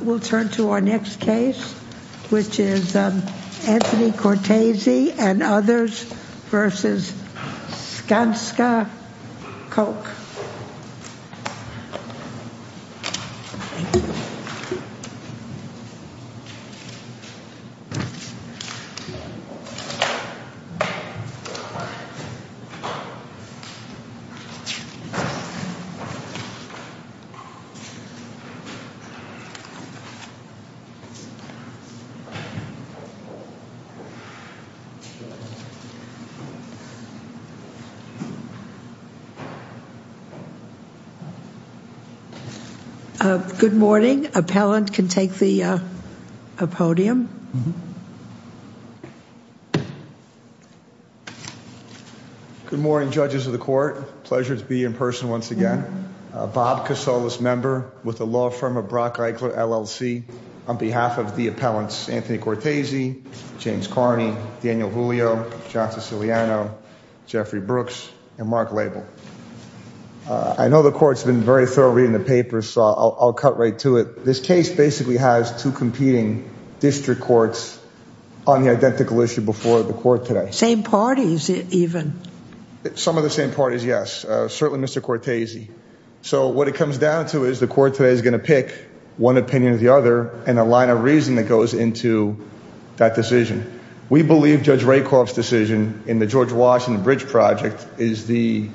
We'll turn to our next case, which is Anthony Cortese and others versus Skanska Koch. Good morning. Appellant can take the podium. Good morning, judges of the court. Pleasure to be in person once again. Bob Casales member with the law firm of Brock Eichler LLC. On behalf of the appellants, Anthony Cortese, James Carney, Daniel Julio, John Siciliano, Jeffrey Brooks and Mark Label. I know the court's been very thorough reading the paper, so I'll cut right to it. This case basically has two competing district courts on the identical issue before the court today. Same parties even. Some of the same parties, yes. Certainly Mr. Cortese. So what it comes down to is the court today is going to pick one opinion or the other and a line of reason that goes into that decision. We believe Judge Rakoff's decision in the George Washington Bridge project is the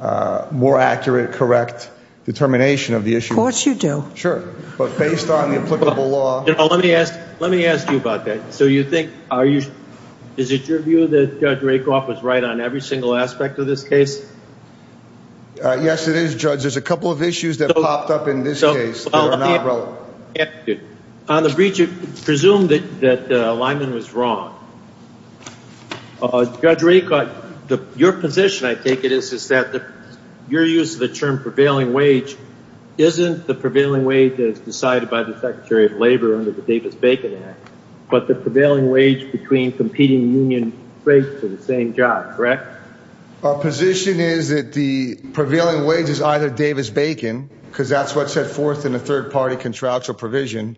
more accurate, correct determination of the issue. Sure. But based on the applicable law. Let me ask you about that. So you think, is it your view that Judge Rakoff was right on every single aspect of this case? Yes, it is, Judge. There's a couple of issues that popped up in this case that are not relevant. On the bridge, it was presumed that Lyman was wrong. Judge Rakoff, your position, I take it, is that your use of the term prevailing wage isn't the prevailing wage as decided by the Secretary of Labor under the Davis-Bacon Act, but the prevailing wage between competing union states for the same job, correct? Our position is that the prevailing wage is either Davis-Bacon, because that's what's set forth in the third party contractual provision,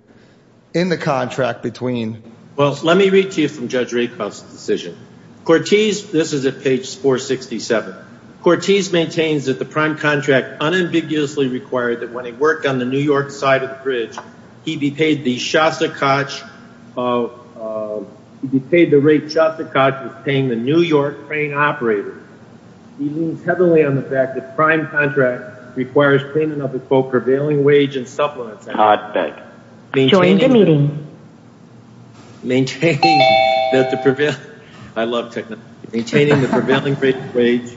in the contract between. Well, let me read to you from Judge Rakoff's decision. This is at page 467. Cortese maintains that the prime contract unambiguously required that when he worked on the New York side of the bridge, he be paid the rate Shostakovich was paying the New York train operator. He leans heavily on the fact that the prime contract requires payment of the so-called prevailing wage and supplements. I'll bet. Join the meeting. Maintaining the prevailing wage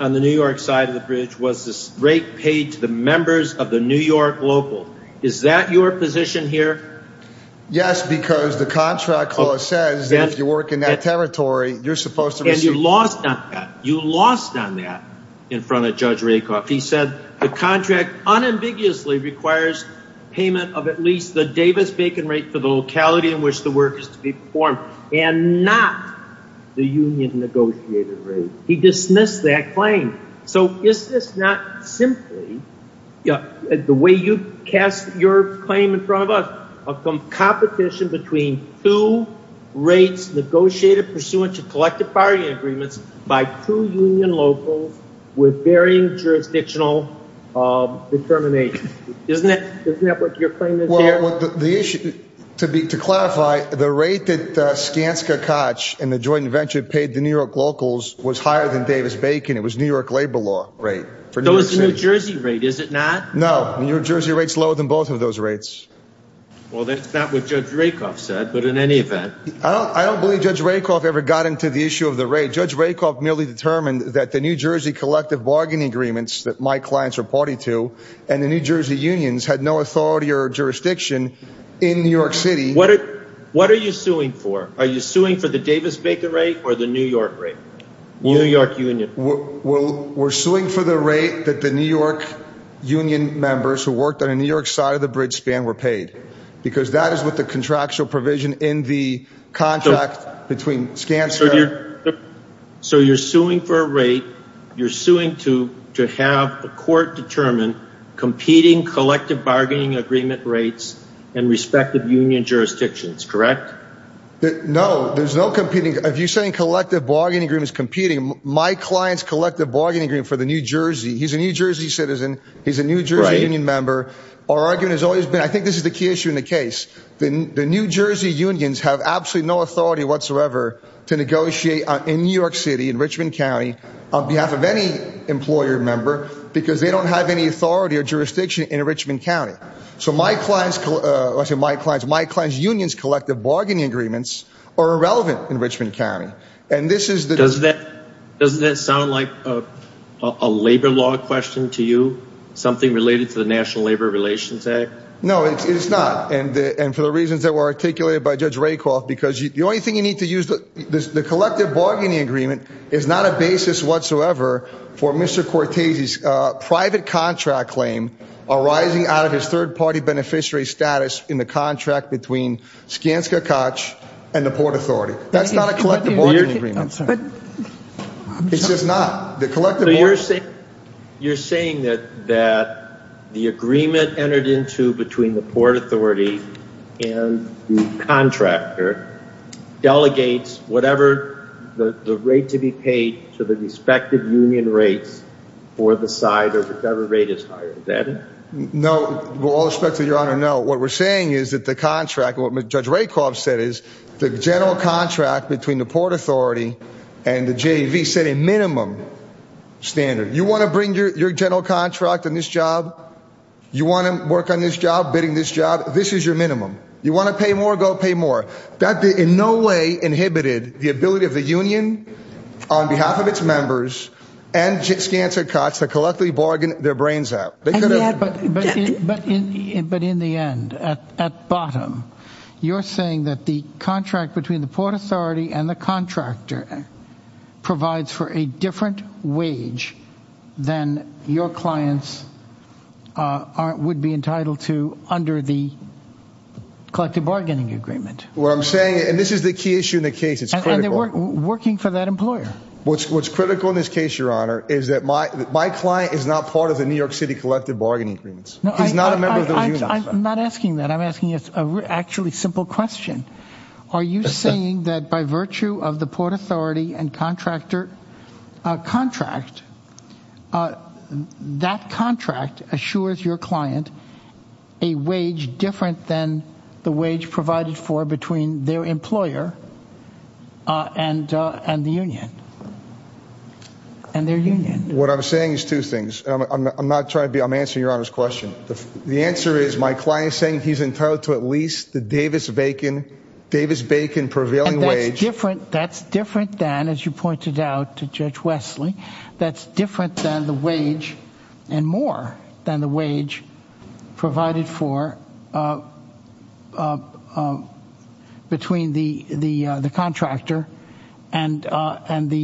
on the New York side of the bridge was the rate paid to the members of the New York local. Is that your position here? Yes, because the contract law says that if you work in that territory, you're supposed to receive. And you lost on that. You lost on that in front of Judge Rakoff. He said the contract unambiguously requires payment of at least the Davis-Bacon rate for the locality in which the work is to be performed and not the union negotiated rate. He dismissed that claim. So is this not simply the way you cast your claim in front of us of competition between two rates negotiated pursuant to collective bargaining agreements by two union locals with varying jurisdictional determination? Isn't that what your claim is here? To clarify, the rate that Skanska Koch and the joint venture paid the New York locals was higher than Davis-Bacon. It was New York labor law rate. So it's the New Jersey rate, is it not? No, New Jersey rate's lower than both of those rates. Well, that's not what Judge Rakoff said, but in any event. I don't believe Judge Rakoff ever got into the issue of the rate. By the way, Judge Rakoff merely determined that the New Jersey collective bargaining agreements that my clients are party to and the New Jersey unions had no authority or jurisdiction in New York City. What are you suing for? Are you suing for the Davis-Bacon rate or the New York rate? New York union. We're suing for the rate that the New York union members who worked on the New York side of the bridge span were paid. Because that is what the contractual provision in the contract between Skanska. So you're suing for a rate. You're suing to have the court determine competing collective bargaining agreement rates in respective union jurisdictions, correct? No, there's no competing. If you're saying collective bargaining agreement is competing, my client's collective bargaining agreement for the New Jersey. He's a New Jersey citizen. He's a New Jersey union member. Our argument has always been, I think this is the key issue in the case. The New Jersey unions have absolutely no authority whatsoever to negotiate in New York City, in Richmond County, on behalf of any employer member because they don't have any authority or jurisdiction in Richmond County. So my client's unions' collective bargaining agreements are irrelevant in Richmond County. Doesn't that sound like a labor law question to you? Something related to the National Labor Relations Act? No, it's not. And for the reasons that were articulated by Judge Rakoff, because the only thing you need to use, the collective bargaining agreement is not a basis whatsoever for Mr. Cortese's private contract claim arising out of his third party beneficiary status in the contract between Skanska Koch and the Port Authority. That's not a collective bargaining agreement. I'm sorry. It's just not. You're saying that the agreement entered into between the Port Authority and the contractor delegates whatever the rate to be paid to the respective union rates for the side or whatever rate is hired. Is that it? No, with all respect to Your Honor, no. What we're saying is that the contract, what Judge Rakoff said is the general contract between the Port Authority and the JV set a minimum standard. You want to bring your general contract in this job? You want to work on this job, bidding this job? This is your minimum. You want to pay more? Go pay more. That in no way inhibited the ability of the union on behalf of its members and Skanska Koch to collectively bargain their brains out. But in the end, at bottom, you're saying that the contract between the Port Authority and the contractor provides for a different wage than your clients would be entitled to under the collective bargaining agreement. What I'm saying, and this is the key issue in the case, it's critical. And they're working for that employer. What's critical in this case, Your Honor, is that my client is not part of the New York City collective bargaining agreements. He's not a member of those unions. I'm not asking that. I'm asking a actually simple question. Are you saying that by virtue of the Port Authority and contractor contract, that contract assures your client a wage different than the wage provided for between their employer and the union? And their union. What I'm saying is two things. I'm not trying to be – I'm answering Your Honor's question. The answer is my client is saying he's entitled to at least the Davis-Bacon prevailing wage. That's different than, as you pointed out to Judge Wesley, that's different than the wage and more than the wage provided for between the contractor and the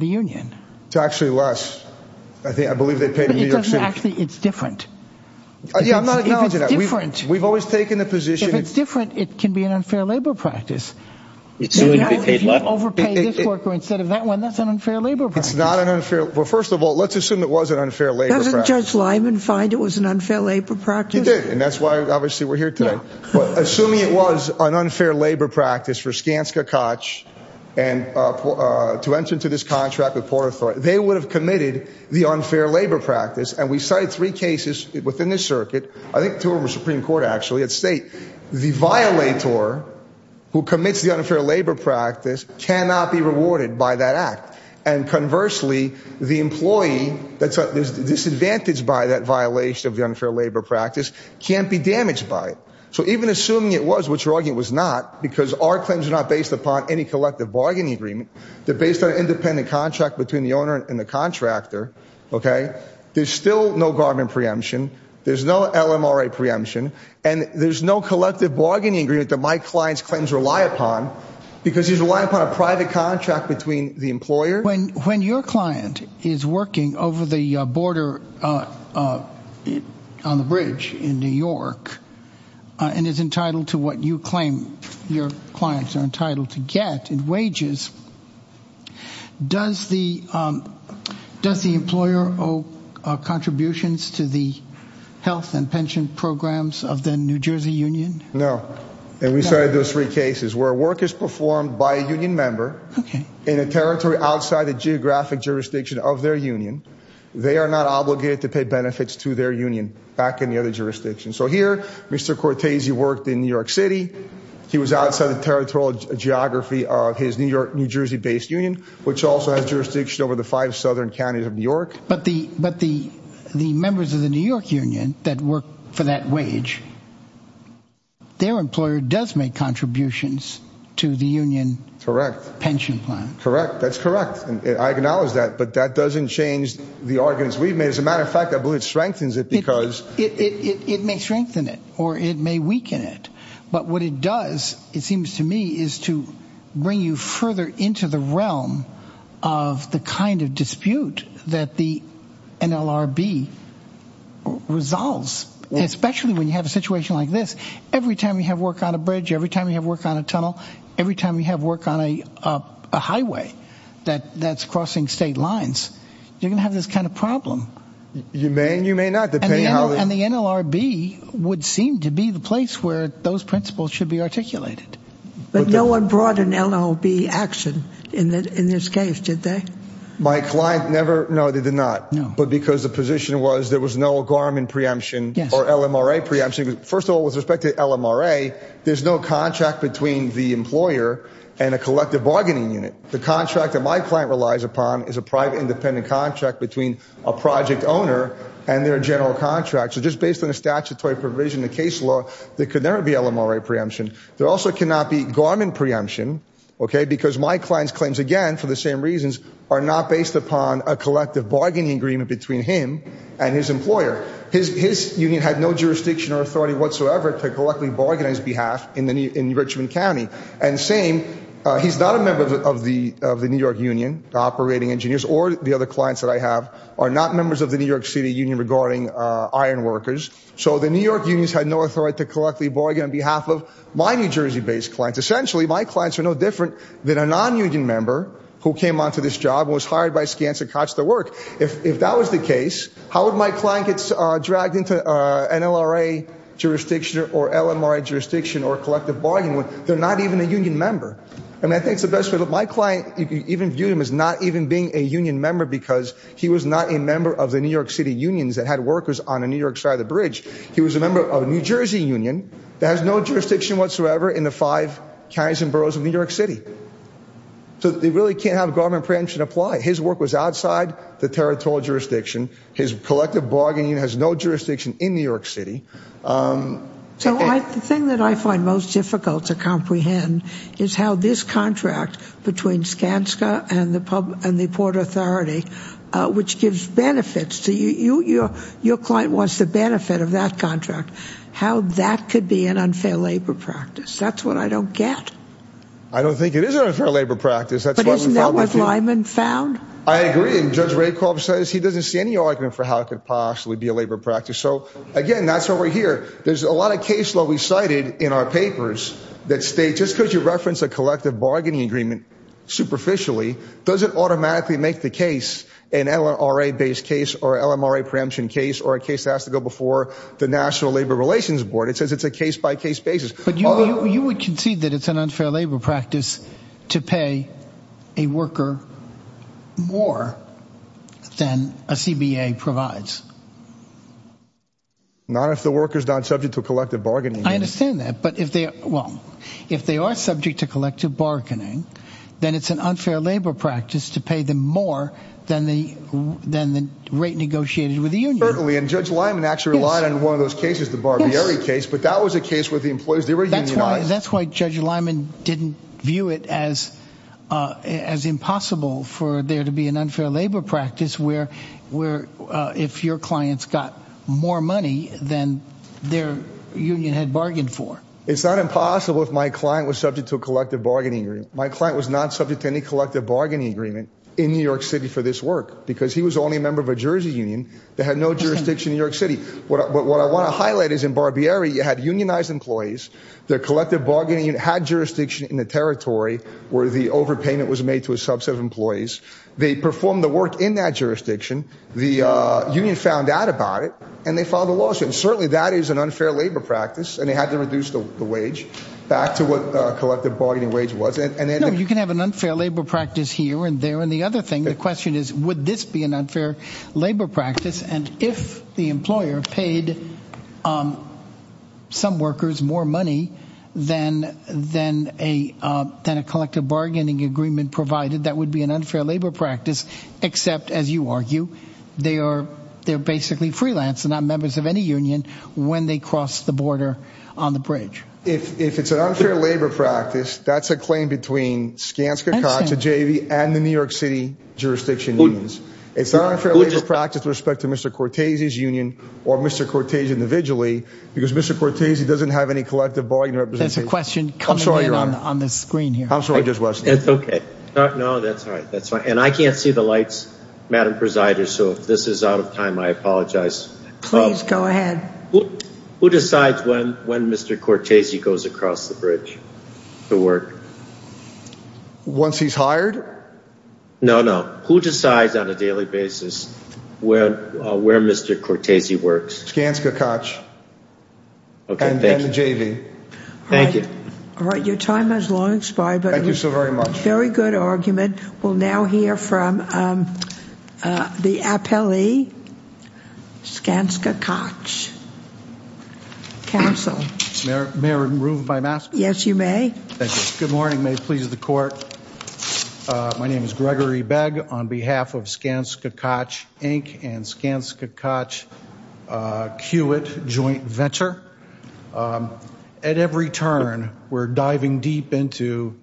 union. It's actually less. Actually, it's different. We've always taken the position – If it's different, it can be an unfair labor practice. If you overpay this worker instead of that one, that's an unfair labor practice. It's not an unfair – well, first of all, let's assume it was an unfair labor practice. Doesn't Judge Lyman find it was an unfair labor practice? He did. And that's why, obviously, we're here today. Assuming it was an unfair labor practice for Skanska Koch to enter into this contract with Port Authority, they would have committed the unfair labor practice. And we cited three cases within this circuit. I think two were Supreme Court, actually, at State. The violator who commits the unfair labor practice cannot be rewarded by that act. And conversely, the employee that's disadvantaged by that violation of the unfair labor practice can't be damaged by it. So even assuming it was, which your argument was not, because our claims are not based upon any collective bargaining agreement. They're based on an independent contract between the owner and the contractor. Okay? There's still no garment preemption. There's no LMRA preemption. And there's no collective bargaining agreement that my client's claims rely upon because he's relying upon a private contract between the employer. When your client is working over the border on the bridge in New York and is entitled to what you claim your clients are entitled to get in wages, does the employer owe contributions to the health and pension programs of the New Jersey Union? No. And we cited those three cases where work is performed by a union member in a territory outside the geographic jurisdiction of their union. They are not obligated to pay benefits to their union back in the other jurisdiction. So here, Mr. Cortese worked in New York City. He was outside the territorial geography of his New York, New Jersey-based union, which also has jurisdiction over the five southern counties of New York. But the members of the New York union that work for that wage, their employer does make contributions to the union pension plan. Correct. That's correct. I acknowledge that. But that doesn't change the arguments we've made. As a matter of fact, I believe it strengthens it because… It may strengthen it or it may weaken it. But what it does, it seems to me, is to bring you further into the realm of the kind of dispute that the NLRB resolves, especially when you have a situation like this. Every time you have work on a bridge, every time you have work on a tunnel, every time you have work on a highway that's crossing state lines, you're going to have this kind of problem. You may and you may not. And the NLRB would seem to be the place where those principles should be articulated. But no one brought an NLRB action in this case, did they? My client never – no, they did not. No. But because the position was there was no Garmin preemption or LMRA preemption. First of all, with respect to LMRA, there's no contract between the employer and a collective bargaining unit. The contract that my client relies upon is a private, independent contract between a project owner and their general contract. So just based on the statutory provision in the case law, there could never be LMRA preemption. There also cannot be Garmin preemption, okay, because my client's claims, again, for the same reasons, are not based upon a collective bargaining agreement between him and his employer. His union had no jurisdiction or authority whatsoever to collectively bargain on his behalf in Richmond County. And same – he's not a member of the New York Union, the operating engineers, or the other clients that I have are not members of the New York City Union regarding iron workers. So the New York unions had no authority to collectively bargain on behalf of my New Jersey-based clients. Essentially, my clients are no different than a non-union member who came onto this job and was hired by Skanska-Kotz to work. If that was the case, how would my client get dragged into an NLRA jurisdiction or LMRA jurisdiction or collective bargaining? They're not even a union member. I mean, I think it's the best – my client, you can even view him as not even being a union member because he was not a member of the New York City unions that had workers on the New York side of the bridge. He was a member of a New Jersey union that has no jurisdiction whatsoever in the five counties and boroughs of New York City. So they really can't have Garmin preemption apply. His work was outside the territorial jurisdiction. His collective bargaining has no jurisdiction in New York City. So the thing that I find most difficult to comprehend is how this contract between Skanska and the Port Authority, which gives benefits to you – your client wants the benefit of that contract – how that could be an unfair labor practice. That's what I don't get. I don't think it is an unfair labor practice. But isn't that what Lyman found? I agree. And Judge Rakoff says he doesn't see any argument for how it could possibly be a labor practice. So, again, that's why we're here. There's a lot of cases that we cited in our papers that state just because you reference a collective bargaining agreement superficially doesn't automatically make the case an NLRA-based case or LMRA preemption case or a case that has to go before the National Labor Relations Board. It says it's a case-by-case basis. But you would concede that it's an unfair labor practice to pay a worker more than a CBA provides. Not if the worker's not subject to collective bargaining. I understand that. But if they – well, if they are subject to collective bargaining, then it's an unfair labor practice to pay them more than the rate negotiated with the union. Certainly. And Judge Lyman actually relied on one of those cases, the Barbieri case. But that was a case where the employees – they were unionized. That's why Judge Lyman didn't view it as impossible for there to be an unfair labor practice where if your clients got more money than their union had bargained for. It's not impossible if my client was subject to a collective bargaining agreement. My client was not subject to any collective bargaining agreement in New York City for this work because he was the only member of a Jersey union that had no jurisdiction in New York City. But what I want to highlight is in Barbieri, you had unionized employees. Their collective bargaining had jurisdiction in the territory where the overpayment was made to a subset of employees. They performed the work in that jurisdiction. The union found out about it, and they filed a lawsuit. Certainly that is an unfair labor practice, and they had to reduce the wage back to what collective bargaining wage was. No, you can have an unfair labor practice here and there. And the other thing, the question is would this be an unfair labor practice? And if the employer paid some workers more money than a collective bargaining agreement provided, that would be an unfair labor practice. Except, as you argue, they're basically freelance and not members of any union when they cross the border on the bridge. If it's an unfair labor practice, that's a claim between Skanska, Cox and JV and the New York City jurisdiction unions. It's not an unfair labor practice with respect to Mr. Cortese's union or Mr. Cortese individually because Mr. Cortese doesn't have any collective bargaining representation. That's a question coming in on the screen here. I'm sorry, Judge West. That's okay. No, that's all right. That's fine. And I can't see the lights, Madam Presider, so if this is out of time, I apologize. Please go ahead. Who decides when Mr. Cortese goes across the bridge to work? Once he's hired? No, no. Who decides on a daily basis where Mr. Cortese works? Skanska, Cox. Okay, thank you. And JV. Thank you. All right. Your time has long expired. Thank you so very much. Very good argument. We'll now hear from the appellee, Skanska, Cox. Counsel. May I remove my mask? Yes, you may. Thank you. Good morning. May it please the court. My name is Gregory Begg on behalf of Skanska, Cox, Inc. and Skanska, Cox, Kiewit Joint Venture. At every turn, we're diving deep into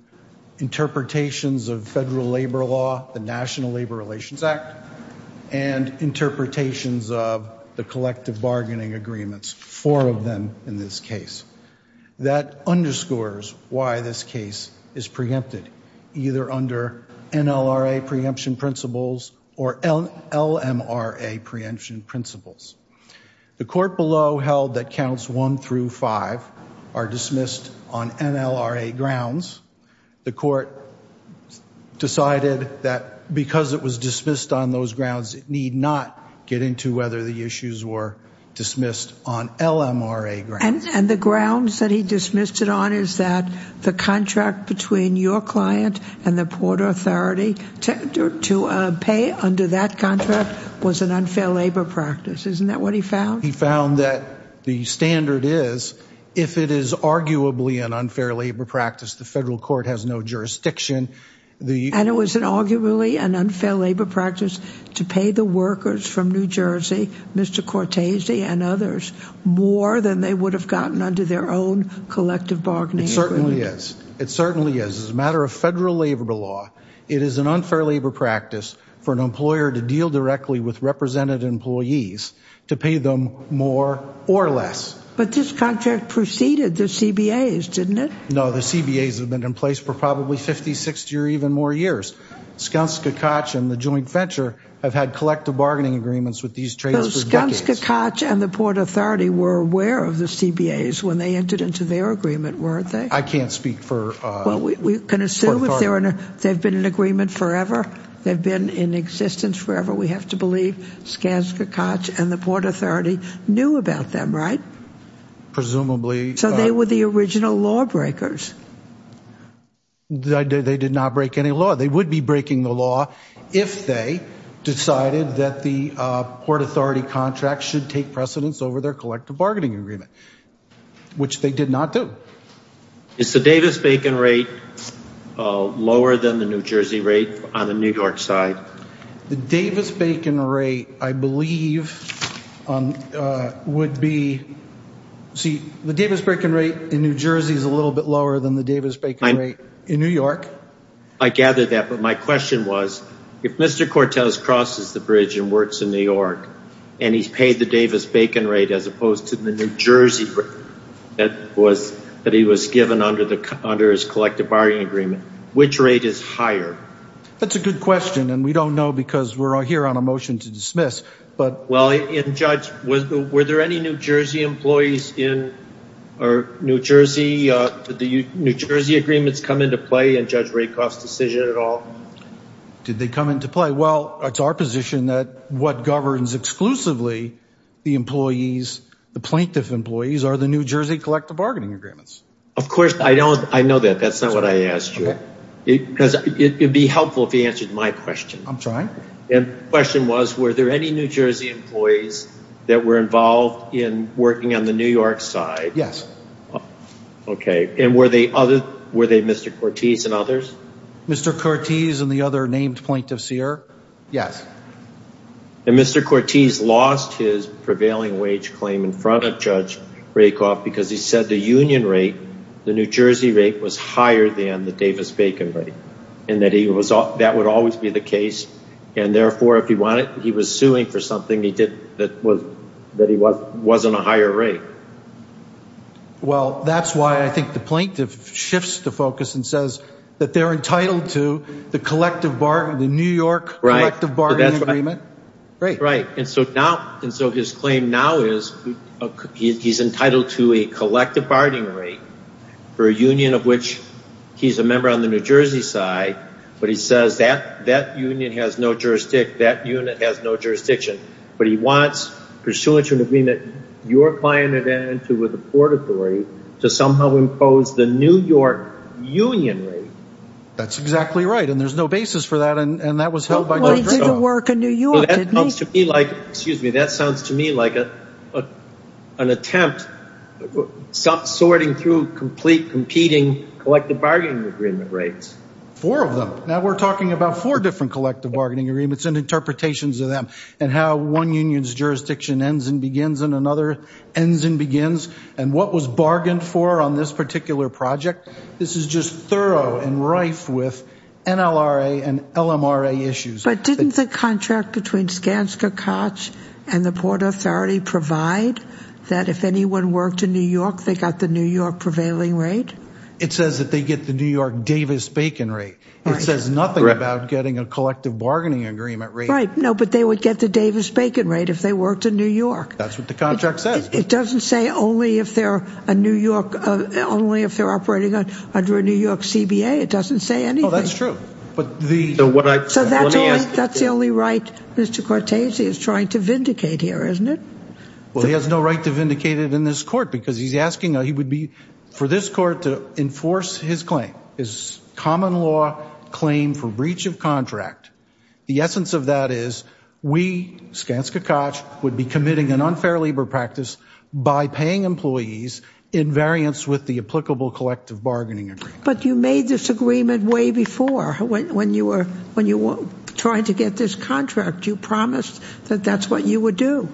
interpretations of federal labor law, the National Labor Relations Act, and interpretations of the collective bargaining agreements, four of them in this case. That underscores why this case is preempted, either under NLRA preemption principles or LMRA preemption principles. The court below held that counts one through five are dismissed on NLRA grounds. The court decided that because it was dismissed on those grounds, it need not get into whether the issues were dismissed on LMRA grounds. And the grounds that he dismissed it on is that the contract between your client and the Port Authority to pay under that contract was an unfair labor practice. Isn't that what he found? He found that the standard is, if it is arguably an unfair labor practice, the federal court has no jurisdiction. And it was arguably an unfair labor practice to pay the workers from New Jersey, Mr. Cortese and others, more than they would have gotten under their own collective bargaining agreement. It certainly is. It certainly is. As a matter of federal labor law, it is an unfair labor practice for an employer to deal directly with represented employees to pay them more or less. But this contract preceded the CBAs, didn't it? No, the CBAs have been in place for probably 50, 60, or even more years. Skanska Koch and the joint venture have had collective bargaining agreements with these traders for decades. Skanska Koch and the Port Authority were aware of the CBAs when they entered into their agreement, weren't they? I can't speak for... We can assume they've been in agreement forever. They've been in existence forever. We have to believe Skanska Koch and the Port Authority knew about them, right? Presumably. So they were the original lawbreakers. They did not break any law. They would be breaking the law if they decided that the Port Authority contract should take precedence over their collective bargaining agreement, which they did not do. Is the Davis-Bacon rate lower than the New Jersey rate on the New York side? The Davis-Bacon rate, I believe, would be... See, the Davis-Bacon rate in New Jersey is a little bit lower than the Davis-Bacon rate in New York. I gather that, but my question was, if Mr. Cortez crosses the bridge and works in New York and he's paid the Davis-Bacon rate as opposed to the New Jersey rate that he was given under his collective bargaining agreement, which rate is higher? That's a good question, and we don't know because we're here on a motion to dismiss. Well, Judge, were there any New Jersey employees in New Jersey? Did the New Jersey agreements come into play in Judge Rakoff's decision at all? Did they come into play? Well, it's our position that what governs exclusively the plaintiff employees are the New Jersey collective bargaining agreements. Of course, I know that. That's not what I asked you. It would be helpful if you answered my question. I'm trying. The question was, were there any New Jersey employees that were involved in working on the New York side? Yes. Okay. And were they Mr. Cortez and others? Mr. Cortez and the other named plaintiff Sear? Yes. And Mr. Cortez lost his prevailing wage claim in front of Judge Rakoff because he said the union rate, the New Jersey rate, was higher than the Davis-Bacon rate and that that would always be the case, and therefore if he wanted he was suing for something that wasn't a higher rate. Well, that's why I think the plaintiff shifts the focus and says that they're entitled to the New York collective bargaining agreement. Right. And so his claim now is he's entitled to a collective bargaining rate for a union of which he's a member on the New Jersey side, but he says that that union has no jurisdiction, that unit has no jurisdiction, but he wants pursuant to an agreement you're buying it into with the Port Authority to somehow impose the New York union rate. That's exactly right, and there's no basis for that, and that was held by Judge Rakoff. Well, he didn't work in New York, did he? Well, that sounds to me like an attempt sorting through competing collective bargaining agreement rates. Four of them. Now we're talking about four different collective bargaining agreements and interpretations of them, and how one union's jurisdiction ends and begins and another ends and begins, and what was bargained for on this particular project. This is just thorough and rife with NLRA and LMRA issues. But didn't the contract between Skanska Koch and the Port Authority provide that if anyone worked in New York, they got the New York prevailing rate? It says that they get the New York Davis-Bacon rate. It says nothing about getting a collective bargaining agreement rate. Right, no, but they would get the Davis-Bacon rate if they worked in New York. That's what the contract says. It doesn't say only if they're operating under a New York CBA. It doesn't say anything. Oh, that's true. So that's the only right Mr. Cortese is trying to vindicate here, isn't it? Well, he has no right to vindicate it in this court because he's asking for this court to enforce his claim. His common law claim for breach of contract. The essence of that is we, Skanska Koch, would be committing an unfair labor practice by paying employees in variance with the applicable collective bargaining agreement. But you made this agreement way before. When you were trying to get this contract, you promised that that's what you would do.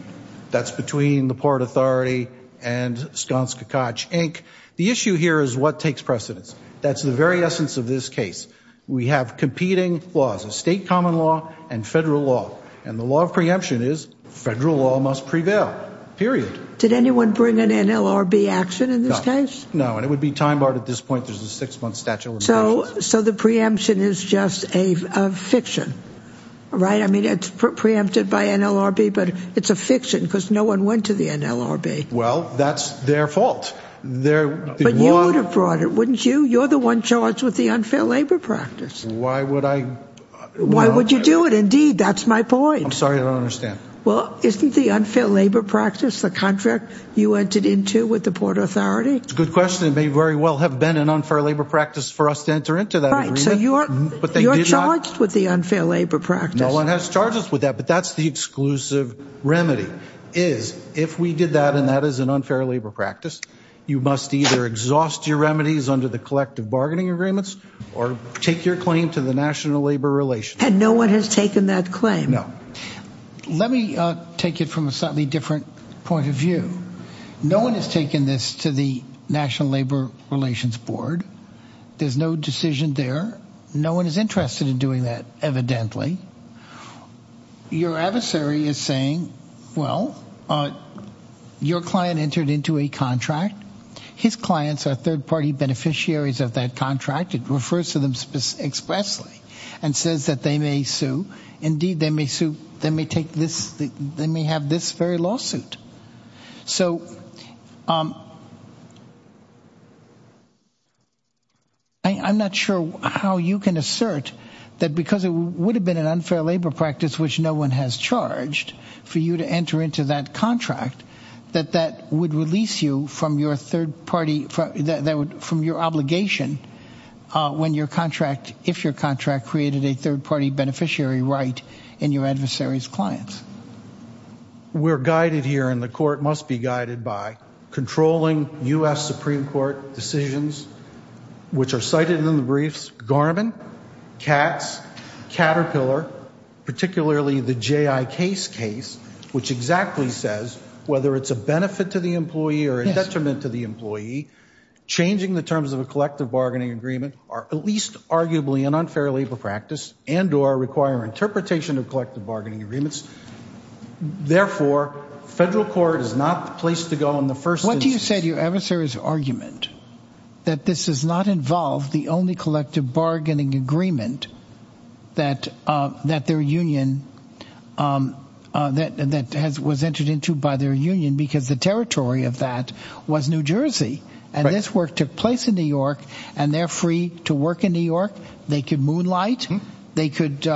That's between the Port Authority and Skanska Koch, Inc. The issue here is what takes precedence. That's the very essence of this case. We have competing laws, a state common law and federal law. And the law of preemption is federal law must prevail, period. Did anyone bring an NLRB action in this case? No, and it would be time barred at this point. There's a six-month statute of limitations. So the preemption is just a fiction, right? I mean, it's preempted by NLRB, but it's a fiction because no one went to the NLRB. Well, that's their fault. But you would have brought it, wouldn't you? You're the one charged with the unfair labor practice. Why would I? Why would you do it? Indeed, that's my point. I'm sorry, I don't understand. Well, isn't the unfair labor practice the contract you entered into with the Port Authority? It's a good question. It may very well have been an unfair labor practice for us to enter into that agreement. But you're charged with the unfair labor practice. No one has charged us with that, but that's the exclusive remedy. If we did that, and that is an unfair labor practice, you must either exhaust your remedies under the collective bargaining agreements or take your claim to the National Labor Relations Board. And no one has taken that claim? No. Let me take it from a slightly different point of view. No one has taken this to the National Labor Relations Board. There's no decision there. No one is interested in doing that, evidently. Your adversary is saying, well, your client entered into a contract. His clients are third-party beneficiaries of that contract. It refers to them expressly and says that they may sue. Indeed, they may have this very lawsuit. So I'm not sure how you can assert that because it would have been an unfair labor practice, which no one has charged for you to enter into that contract, that that would release you from your obligation when your contract, if your contract created a third-party beneficiary right in your adversary's clients. We're guided here, and the court must be guided by controlling U.S. Supreme Court decisions, which are cited in the briefs, Garmin, CATS, Caterpillar, particularly the J.I. Case case, which exactly says whether it's a benefit to the employee or a detriment to the employee, changing the terms of a collective bargaining agreement are at least arguably an unfair labor practice and or require interpretation of collective bargaining agreements. Therefore, federal court is not the place to go in the first instance. What do you say to your adversary's argument that this does not involve the only collective bargaining agreement that their union, that was entered into by their union because the territory of that was New Jersey, and this work took place in New York, and they're free to work in New York. They could moonlight. They could,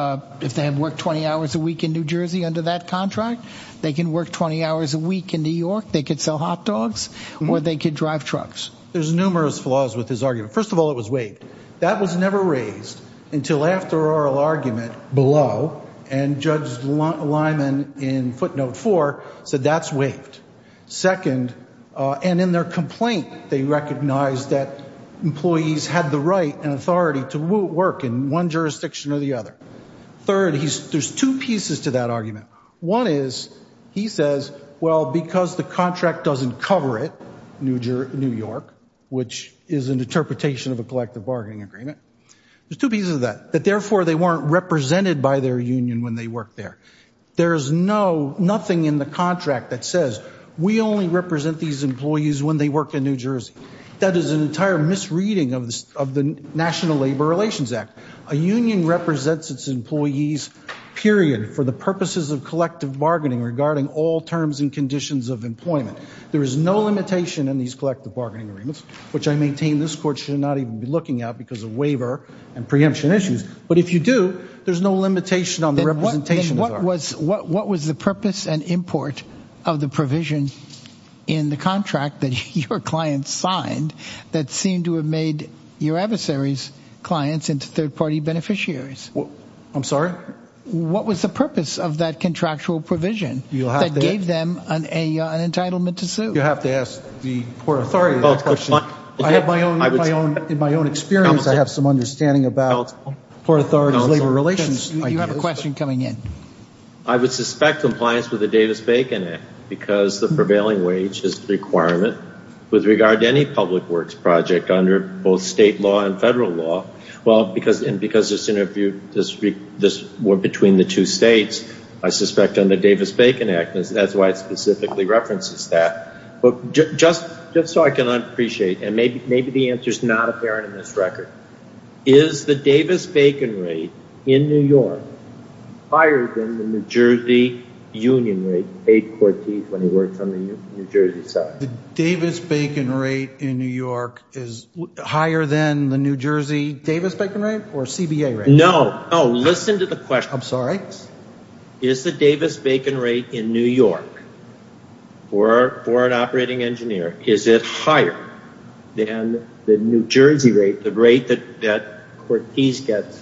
if they had worked 20 hours a week in New Jersey under that contract, they can work 20 hours a week in New York. They could sell hot dogs, or they could drive trucks. There's numerous flaws with his argument. First of all, it was waived. That was never raised until after oral argument below, and Judge Lyman in footnote four said that's waived. Second, and in their complaint, they recognized that employees had the right and authority to work in one jurisdiction or the other. Third, there's two pieces to that argument. One is he says, well, because the contract doesn't cover it, New York, which is an interpretation of a collective bargaining agreement, there's two pieces of that, that therefore they weren't represented by their union when they worked there. There's nothing in the contract that says we only represent these employees when they work in New Jersey. That is an entire misreading of the National Labor Relations Act. A union represents its employees, period, for the purposes of collective bargaining regarding all terms and conditions of employment. There is no limitation in these collective bargaining agreements, which I maintain this court should not even be looking at because of waiver and preemption issues, but if you do, there's no limitation on the representation. Then what was the purpose and import of the provision in the contract that your client signed that seemed to have made your adversary's clients into third-party beneficiaries? I'm sorry? What was the purpose of that contractual provision that gave them an entitlement to sue? You'll have to ask the court. I have my own experience. I have some understanding about court authorities' labor relations. You have a question coming in. I would suspect compliance with the Davis-Bacon Act because the prevailing wage is the requirement with regard to any public works project under both state law and federal law. Well, and because this was between the two states, I suspect under the Davis-Bacon Act, that's why it specifically references that. Just so I can appreciate, and maybe the answer is not apparent in this record, is the Davis-Bacon rate in New York higher than the New Jersey union rate paid for teeth when he works on the New Jersey side? The Davis-Bacon rate in New York is higher than the New Jersey Davis-Bacon rate or CBA rate? No. No. Listen to the question. I'm sorry? Is the Davis-Bacon rate in New York for an operating engineer, is it higher than the New Jersey rate, the rate that Cortese gets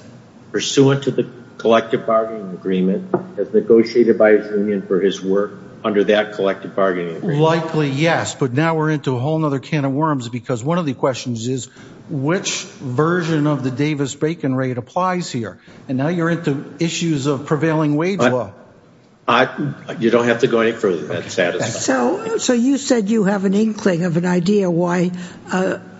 pursuant to the collective bargaining agreement as negotiated by his union for his work under that collective bargaining agreement? Likely, yes, but now we're into a whole other can of worms because one of the questions is which version of the Davis-Bacon rate applies here? And now you're into issues of prevailing wage law. You don't have to go any further than that. So you said you have an inkling of an idea why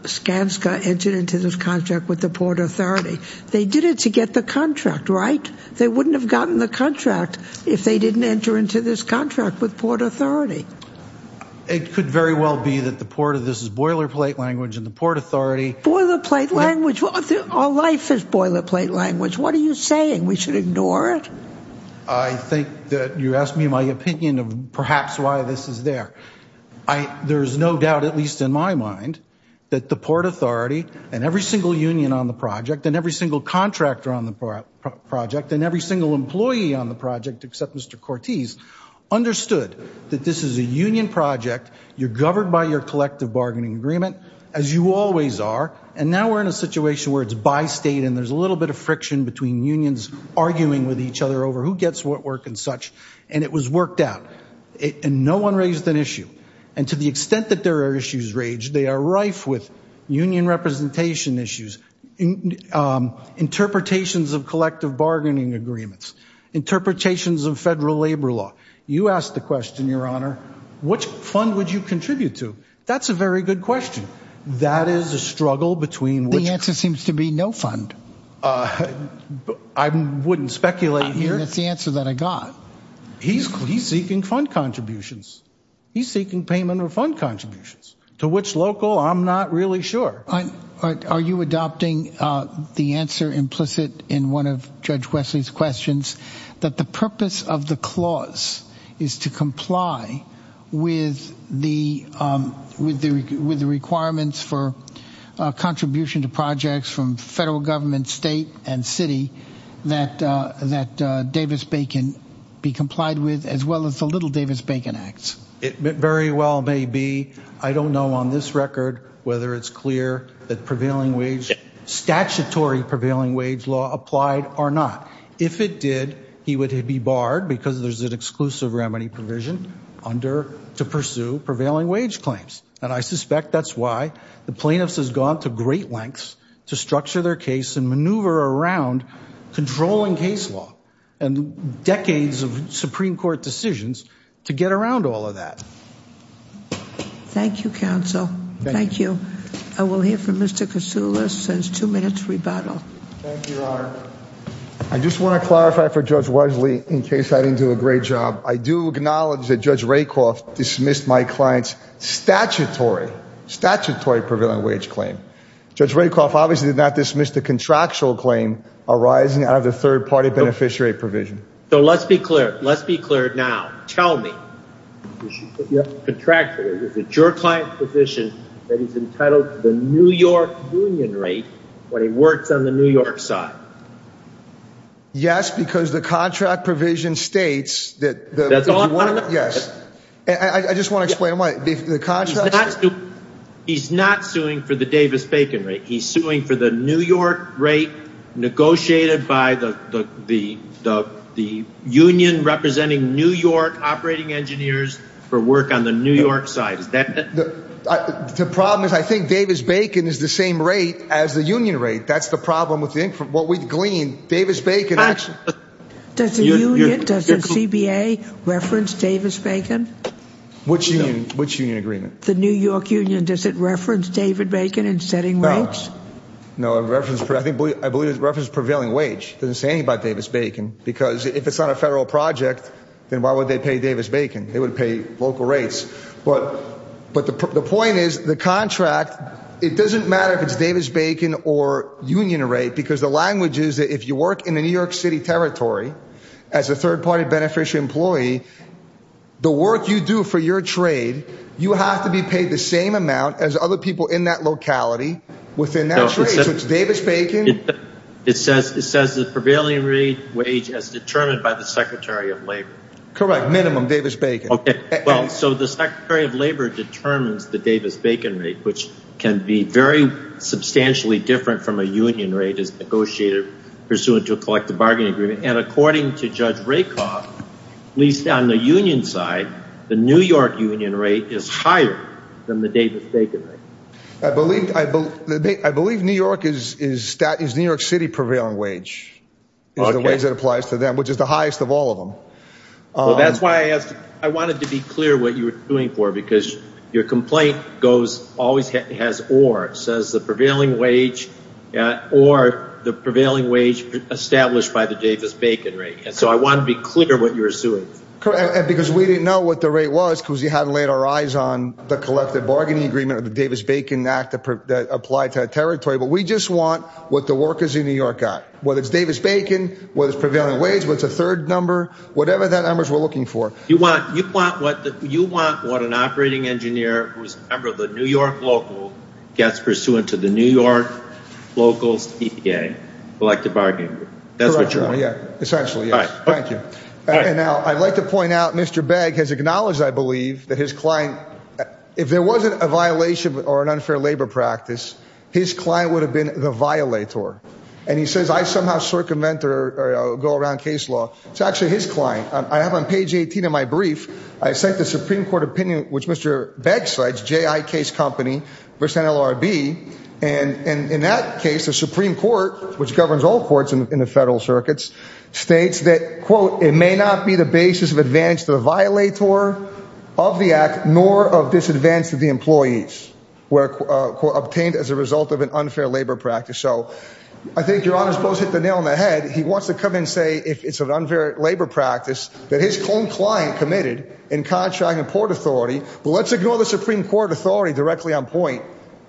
Skanska entered into this contract with the Port Authority. They did it to get the contract, right? They wouldn't have gotten the contract if they didn't enter into this contract with Port Authority. It could very well be that the Port of this is boilerplate language and the Port Authority— Our life is boilerplate language. What are you saying? We should ignore it? I think that you asked me my opinion of perhaps why this is there. There is no doubt, at least in my mind, that the Port Authority and every single union on the project and every single contractor on the project and every single employee on the project except Mr. Cortese understood that this is a union project. You're governed by your collective bargaining agreement, as you always are, and now we're in a situation where it's by state and there's a little bit of friction between unions arguing with each other over who gets what work and such, and it was worked out, and no one raised an issue. And to the extent that there are issues raised, they are rife with union representation issues, interpretations of collective bargaining agreements, interpretations of federal labor law. You asked the question, Your Honor, which fund would you contribute to? That's a very good question. That is a struggle between which— The answer seems to be no fund. I wouldn't speculate here. That's the answer that I got. He's seeking fund contributions. He's seeking payment of fund contributions, to which local I'm not really sure. Are you adopting the answer implicit in one of Judge Wesley's questions that the purpose of the clause is to comply with the requirements for contribution to projects from federal government, state, and city that Davis-Bacon be complied with, as well as the Little Davis-Bacon Acts? It very well may be. I don't know on this record whether it's clear that prevailing wage— Statutory prevailing wage law applied or not. If it did, he would be barred because there's an exclusive remedy provision under to pursue prevailing wage claims. And I suspect that's why the plaintiffs has gone to great lengths to structure their case and maneuver around controlling case law and decades of Supreme Court decisions to get around all of that. Thank you, counsel. Thank you. I will hear from Mr. Kasula since two minutes rebuttal. Thank you, Your Honor. I just want to clarify for Judge Wesley, in case I didn't do a great job, I do acknowledge that Judge Rakoff dismissed my client's statutory prevailing wage claim. Judge Rakoff obviously did not dismiss the contractual claim arising out of the third-party beneficiary provision. So let's be clear. Let's be clear now. Tell me. Contractual. Is it your client's position that he's entitled to the New York union rate when he works on the New York side? Yes, because the contract provision states that. Yes. I just want to explain why the contract. He's not suing for the Davis-Bacon rate. He's suing for the New York rate negotiated by the union representing New York operating engineers for work on the New York side. The problem is I think Davis-Bacon is the same rate as the union rate. That's the problem with what we gleaned. Davis-Bacon actually. Does the union, does the CBA reference Davis-Bacon? Which union? Which union agreement? The New York union. Does it reference David-Bacon in setting rates? No. No, I believe it references prevailing wage. It doesn't say anything about Davis-Bacon because if it's not a federal project, then why would they pay Davis-Bacon? They would pay local rates. But the point is the contract, it doesn't matter if it's Davis-Bacon or union rate because the language is that if you work in the New York City territory, as a third-party beneficiary employee, the work you do for your trade, you have to be paid the same amount as other people in that locality within that trade. So it's Davis-Bacon. It says the prevailing wage as determined by the secretary of labor. Correct. Minimum Davis-Bacon. Well, so the secretary of labor determines the Davis-Bacon rate, which can be very substantially different from a union rate as negotiated pursuant to a collective bargaining agreement. And according to Judge Rakoff, at least on the union side, the New York union rate is higher than the Davis-Bacon rate. I believe New York is New York City prevailing wage. It's the wage that applies to them, which is the highest of all of them. Well, that's why I asked. I wanted to be clear what you were suing for because your complaint goes, always has or. It says the prevailing wage or the prevailing wage established by the Davis-Bacon rate. And so I want to be clear what you're suing. Correct. Because we didn't know what the rate was because you hadn't laid our eyes on the collective bargaining agreement or the Davis-Bacon Act that applied to that territory. But we just want what the workers in New York got. Whether it's Davis-Bacon, whether it's prevailing wage, whether it's a third number, whatever that number is we're looking for. You want what an operating engineer who is a member of the New York local gets pursuant to the New York local's EPA, collective bargaining agreement. That's what you want. Essentially, yes. Thank you. And now I'd like to point out Mr. Begg has acknowledged, I believe, that his client, if there wasn't a violation or an unfair labor practice, his client would have been the violator. And he says, I somehow circumvent or go around case law. It's actually his client. I have on page 18 of my brief, I cite the Supreme Court opinion, which Mr. Begg cites, J.I. Case Company versus NLRB. And in that case, the Supreme Court, which governs all courts in the federal circuits, states that, quote, it may not be the basis of advantage to the violator of the act nor of disadvantage to the employees obtained as a result of an unfair labor practice. So I think Your Honor has both hit the nail on the head. He wants to come in and say it's an unfair labor practice that his own client committed in contracting a port authority. Well, let's ignore the Supreme Court authority directly on point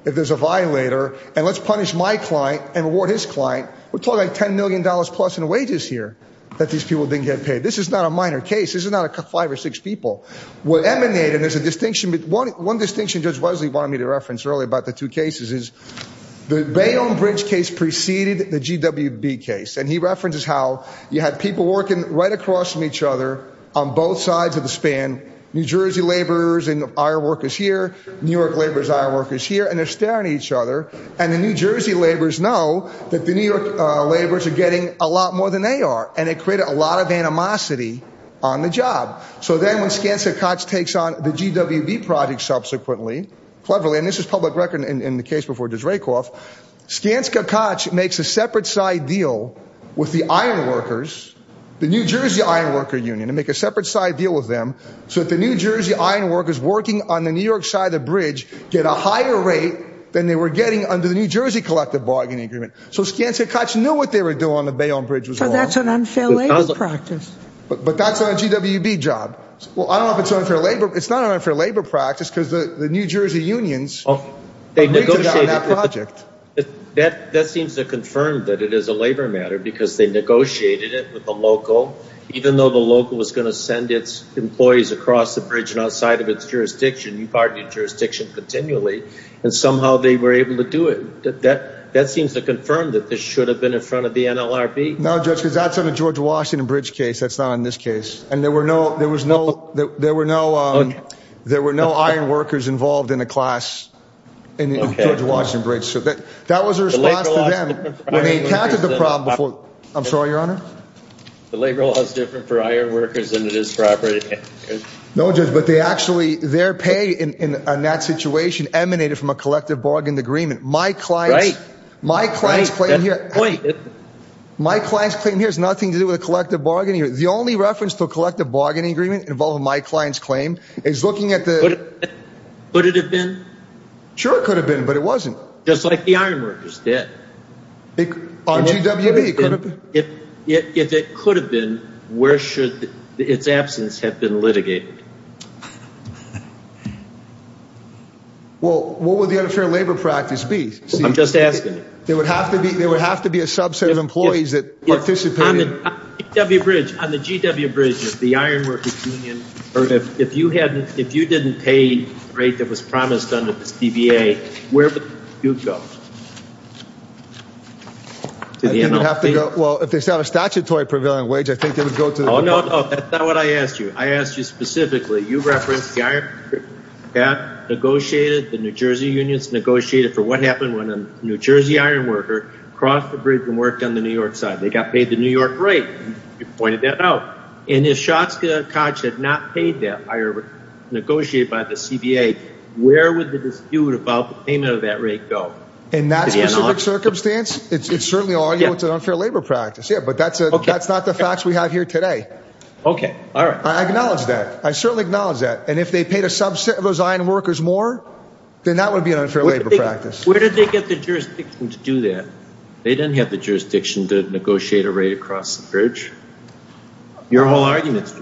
if there's a violator, and let's punish my client and reward his client. We're talking like $10 million plus in wages here that these people didn't get paid. This is not a minor case. This is not five or six people. What emanated is a distinction. One distinction Judge Wesley wanted me to reference earlier about the two cases is the Bayonne Bridge case preceded the GWB case, and he references how you had people working right across from each other on both sides of the span, New Jersey laborers and IR workers here, New York laborers, IR workers here, and they're staring at each other, and the New Jersey laborers know that the New York laborers are getting a lot more than they are, and it created a lot of animosity on the job. So then when Skansicotch takes on the GWB project subsequently, cleverly, and this is public record in the case before Dreykov, Skansicotch makes a separate side deal with the IR workers, the New Jersey IR worker union, to make a separate side deal with them, so that the New Jersey IR workers working on the New York side of the bridge get a higher rate than they were getting under the New Jersey collective bargaining agreement. So Skansicotch knew what they were doing on the Bayonne Bridge was wrong. So that's an unfair labor practice. But that's on a GWB job. Well, I don't know if it's unfair labor. It's not an unfair labor practice because the New Jersey unions agreed to that on that project. That seems to confirm that it is a labor matter because they negotiated it with the local, even though the local was going to send its employees across the bridge and outside of its jurisdiction, you pardon me, jurisdiction continually, and somehow they were able to do it. That seems to confirm that this should have been in front of the NLRB. No, Judge, because that's on a GWB case. That's not on this case. And there were no, there was no, there were no, there were no iron workers involved in a class in the GWB. So that was a response to them. They encountered the problem before. I'm sorry, Your Honor. The labor law is different for iron workers than it is for operating. No, Judge, but they actually, their pay in that situation emanated from a collective bargaining agreement. My clients, my clients claim here, my clients claim here has nothing to do with collective bargaining. The only reference to a collective bargaining agreement involving my client's claim is looking at the. Could it have been? Sure, it could have been, but it wasn't. Just like the iron workers did. On GWB, it could have been. If it could have been, where should its absence have been litigated? Well, what would the unfair labor practice be? I'm just asking. There would have to be, there would have to be a subset of employees that participated. On the GW Bridge, on the GW Bridge, if the iron workers union, or if you hadn't, if you didn't pay the rate that was promised under this DBA, where would you go? I think you'd have to go, well, if they still have a statutory prevailing wage, I think they would go to. Oh, no, no, that's not what I asked you. I asked you specifically. You referenced the iron workers union. That negotiated, the New Jersey unions negotiated for what happened when a New Jersey iron worker crossed the bridge and worked on the New York side. They got paid the New York rate. You pointed that out. And if Shotscott had not paid that, negotiated by the CBA, where would the dispute about the payment of that rate go? In that specific circumstance, it's certainly an unfair labor practice. Yeah, but that's not the facts we have here today. Okay, all right. I acknowledge that. I certainly acknowledge that. And if they paid a subset of those iron workers more, then that would be an unfair labor practice. Where did they get the jurisdiction to do that? They didn't have the jurisdiction to negotiate a rate across the bridge. Your whole argument.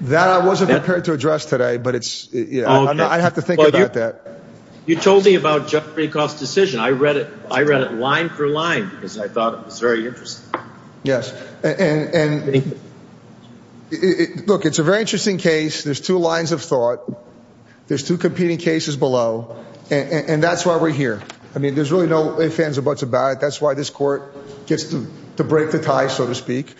That I wasn't prepared to address today, but it's, you know, I have to think about that. You told me about Jeffrey Kauf's decision. I read it. I read it line for line because I thought it was very interesting. Yes. And look, it's a very interesting case. There's two lines of thought. There's two competing cases below. And that's why we're here. I mean, there's really no ifs, ands, or buts about it. That's why this court gets to break the tie, so to speak.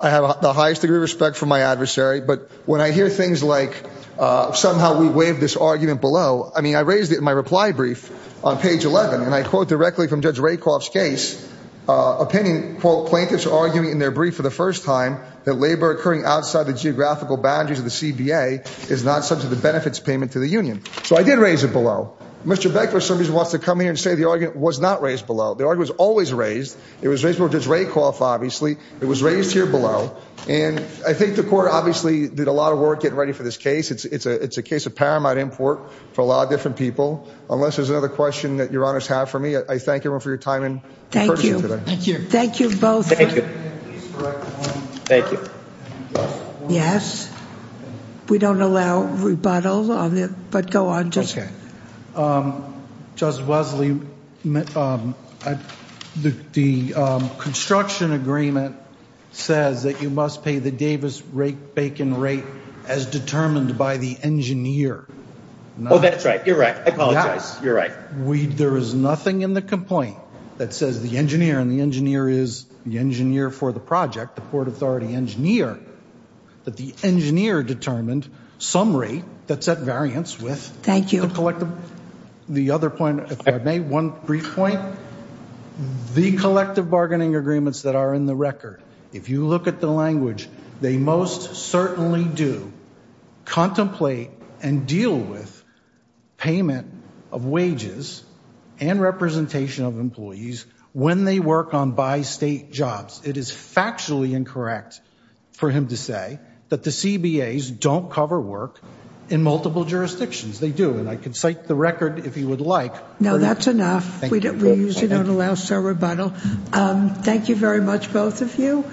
I have the highest degree of respect for my adversary. But when I hear things like somehow we waived this argument below, I mean, I raised it in my reply brief on page 11. And I quote directly from Judge Rakoff's case, opinion, quote, plaintiffs arguing in their brief for the first time that labor occurring outside the geographical boundaries of the CBA is not subject to benefits payment to the union. So I did raise it below. Mr. Becker, for some reason, wants to come here and say the argument was not raised below. The argument was always raised. It was raised before Judge Rakoff, obviously. It was raised here below. And I think the court obviously did a lot of work getting ready for this case. It's a case of paramount import for a lot of different people. Unless there's another question that your honors have for me, I thank everyone for your time and courtesy today. Thank you. Thank you. Thank you both. Thank you. Thank you. Yes. We don't allow rebuttal. But go on. Okay. Judge Wesley, the construction agreement says that you must pay the Davis-Bacon rate as determined by the engineer. Oh, that's right. You're right. I apologize. You're right. There is nothing in the complaint that says the engineer and the engineer is the engineer for the project, the Port Authority engineer, that the engineer determined some rate that's at variance with the collective. Thank you. The other point, if I may, one brief point. The collective bargaining agreements that are in the record, if you look at the language, they most certainly do contemplate and deal with payment of wages and representation of employees when they work on bi-state jobs. It is factually incorrect for him to say that the CBAs don't cover work in multiple jurisdictions. They do. And I can cite the record if you would like. No, that's enough. Thank you. We usually don't allow such rebuttal. Thank you very much, both of you.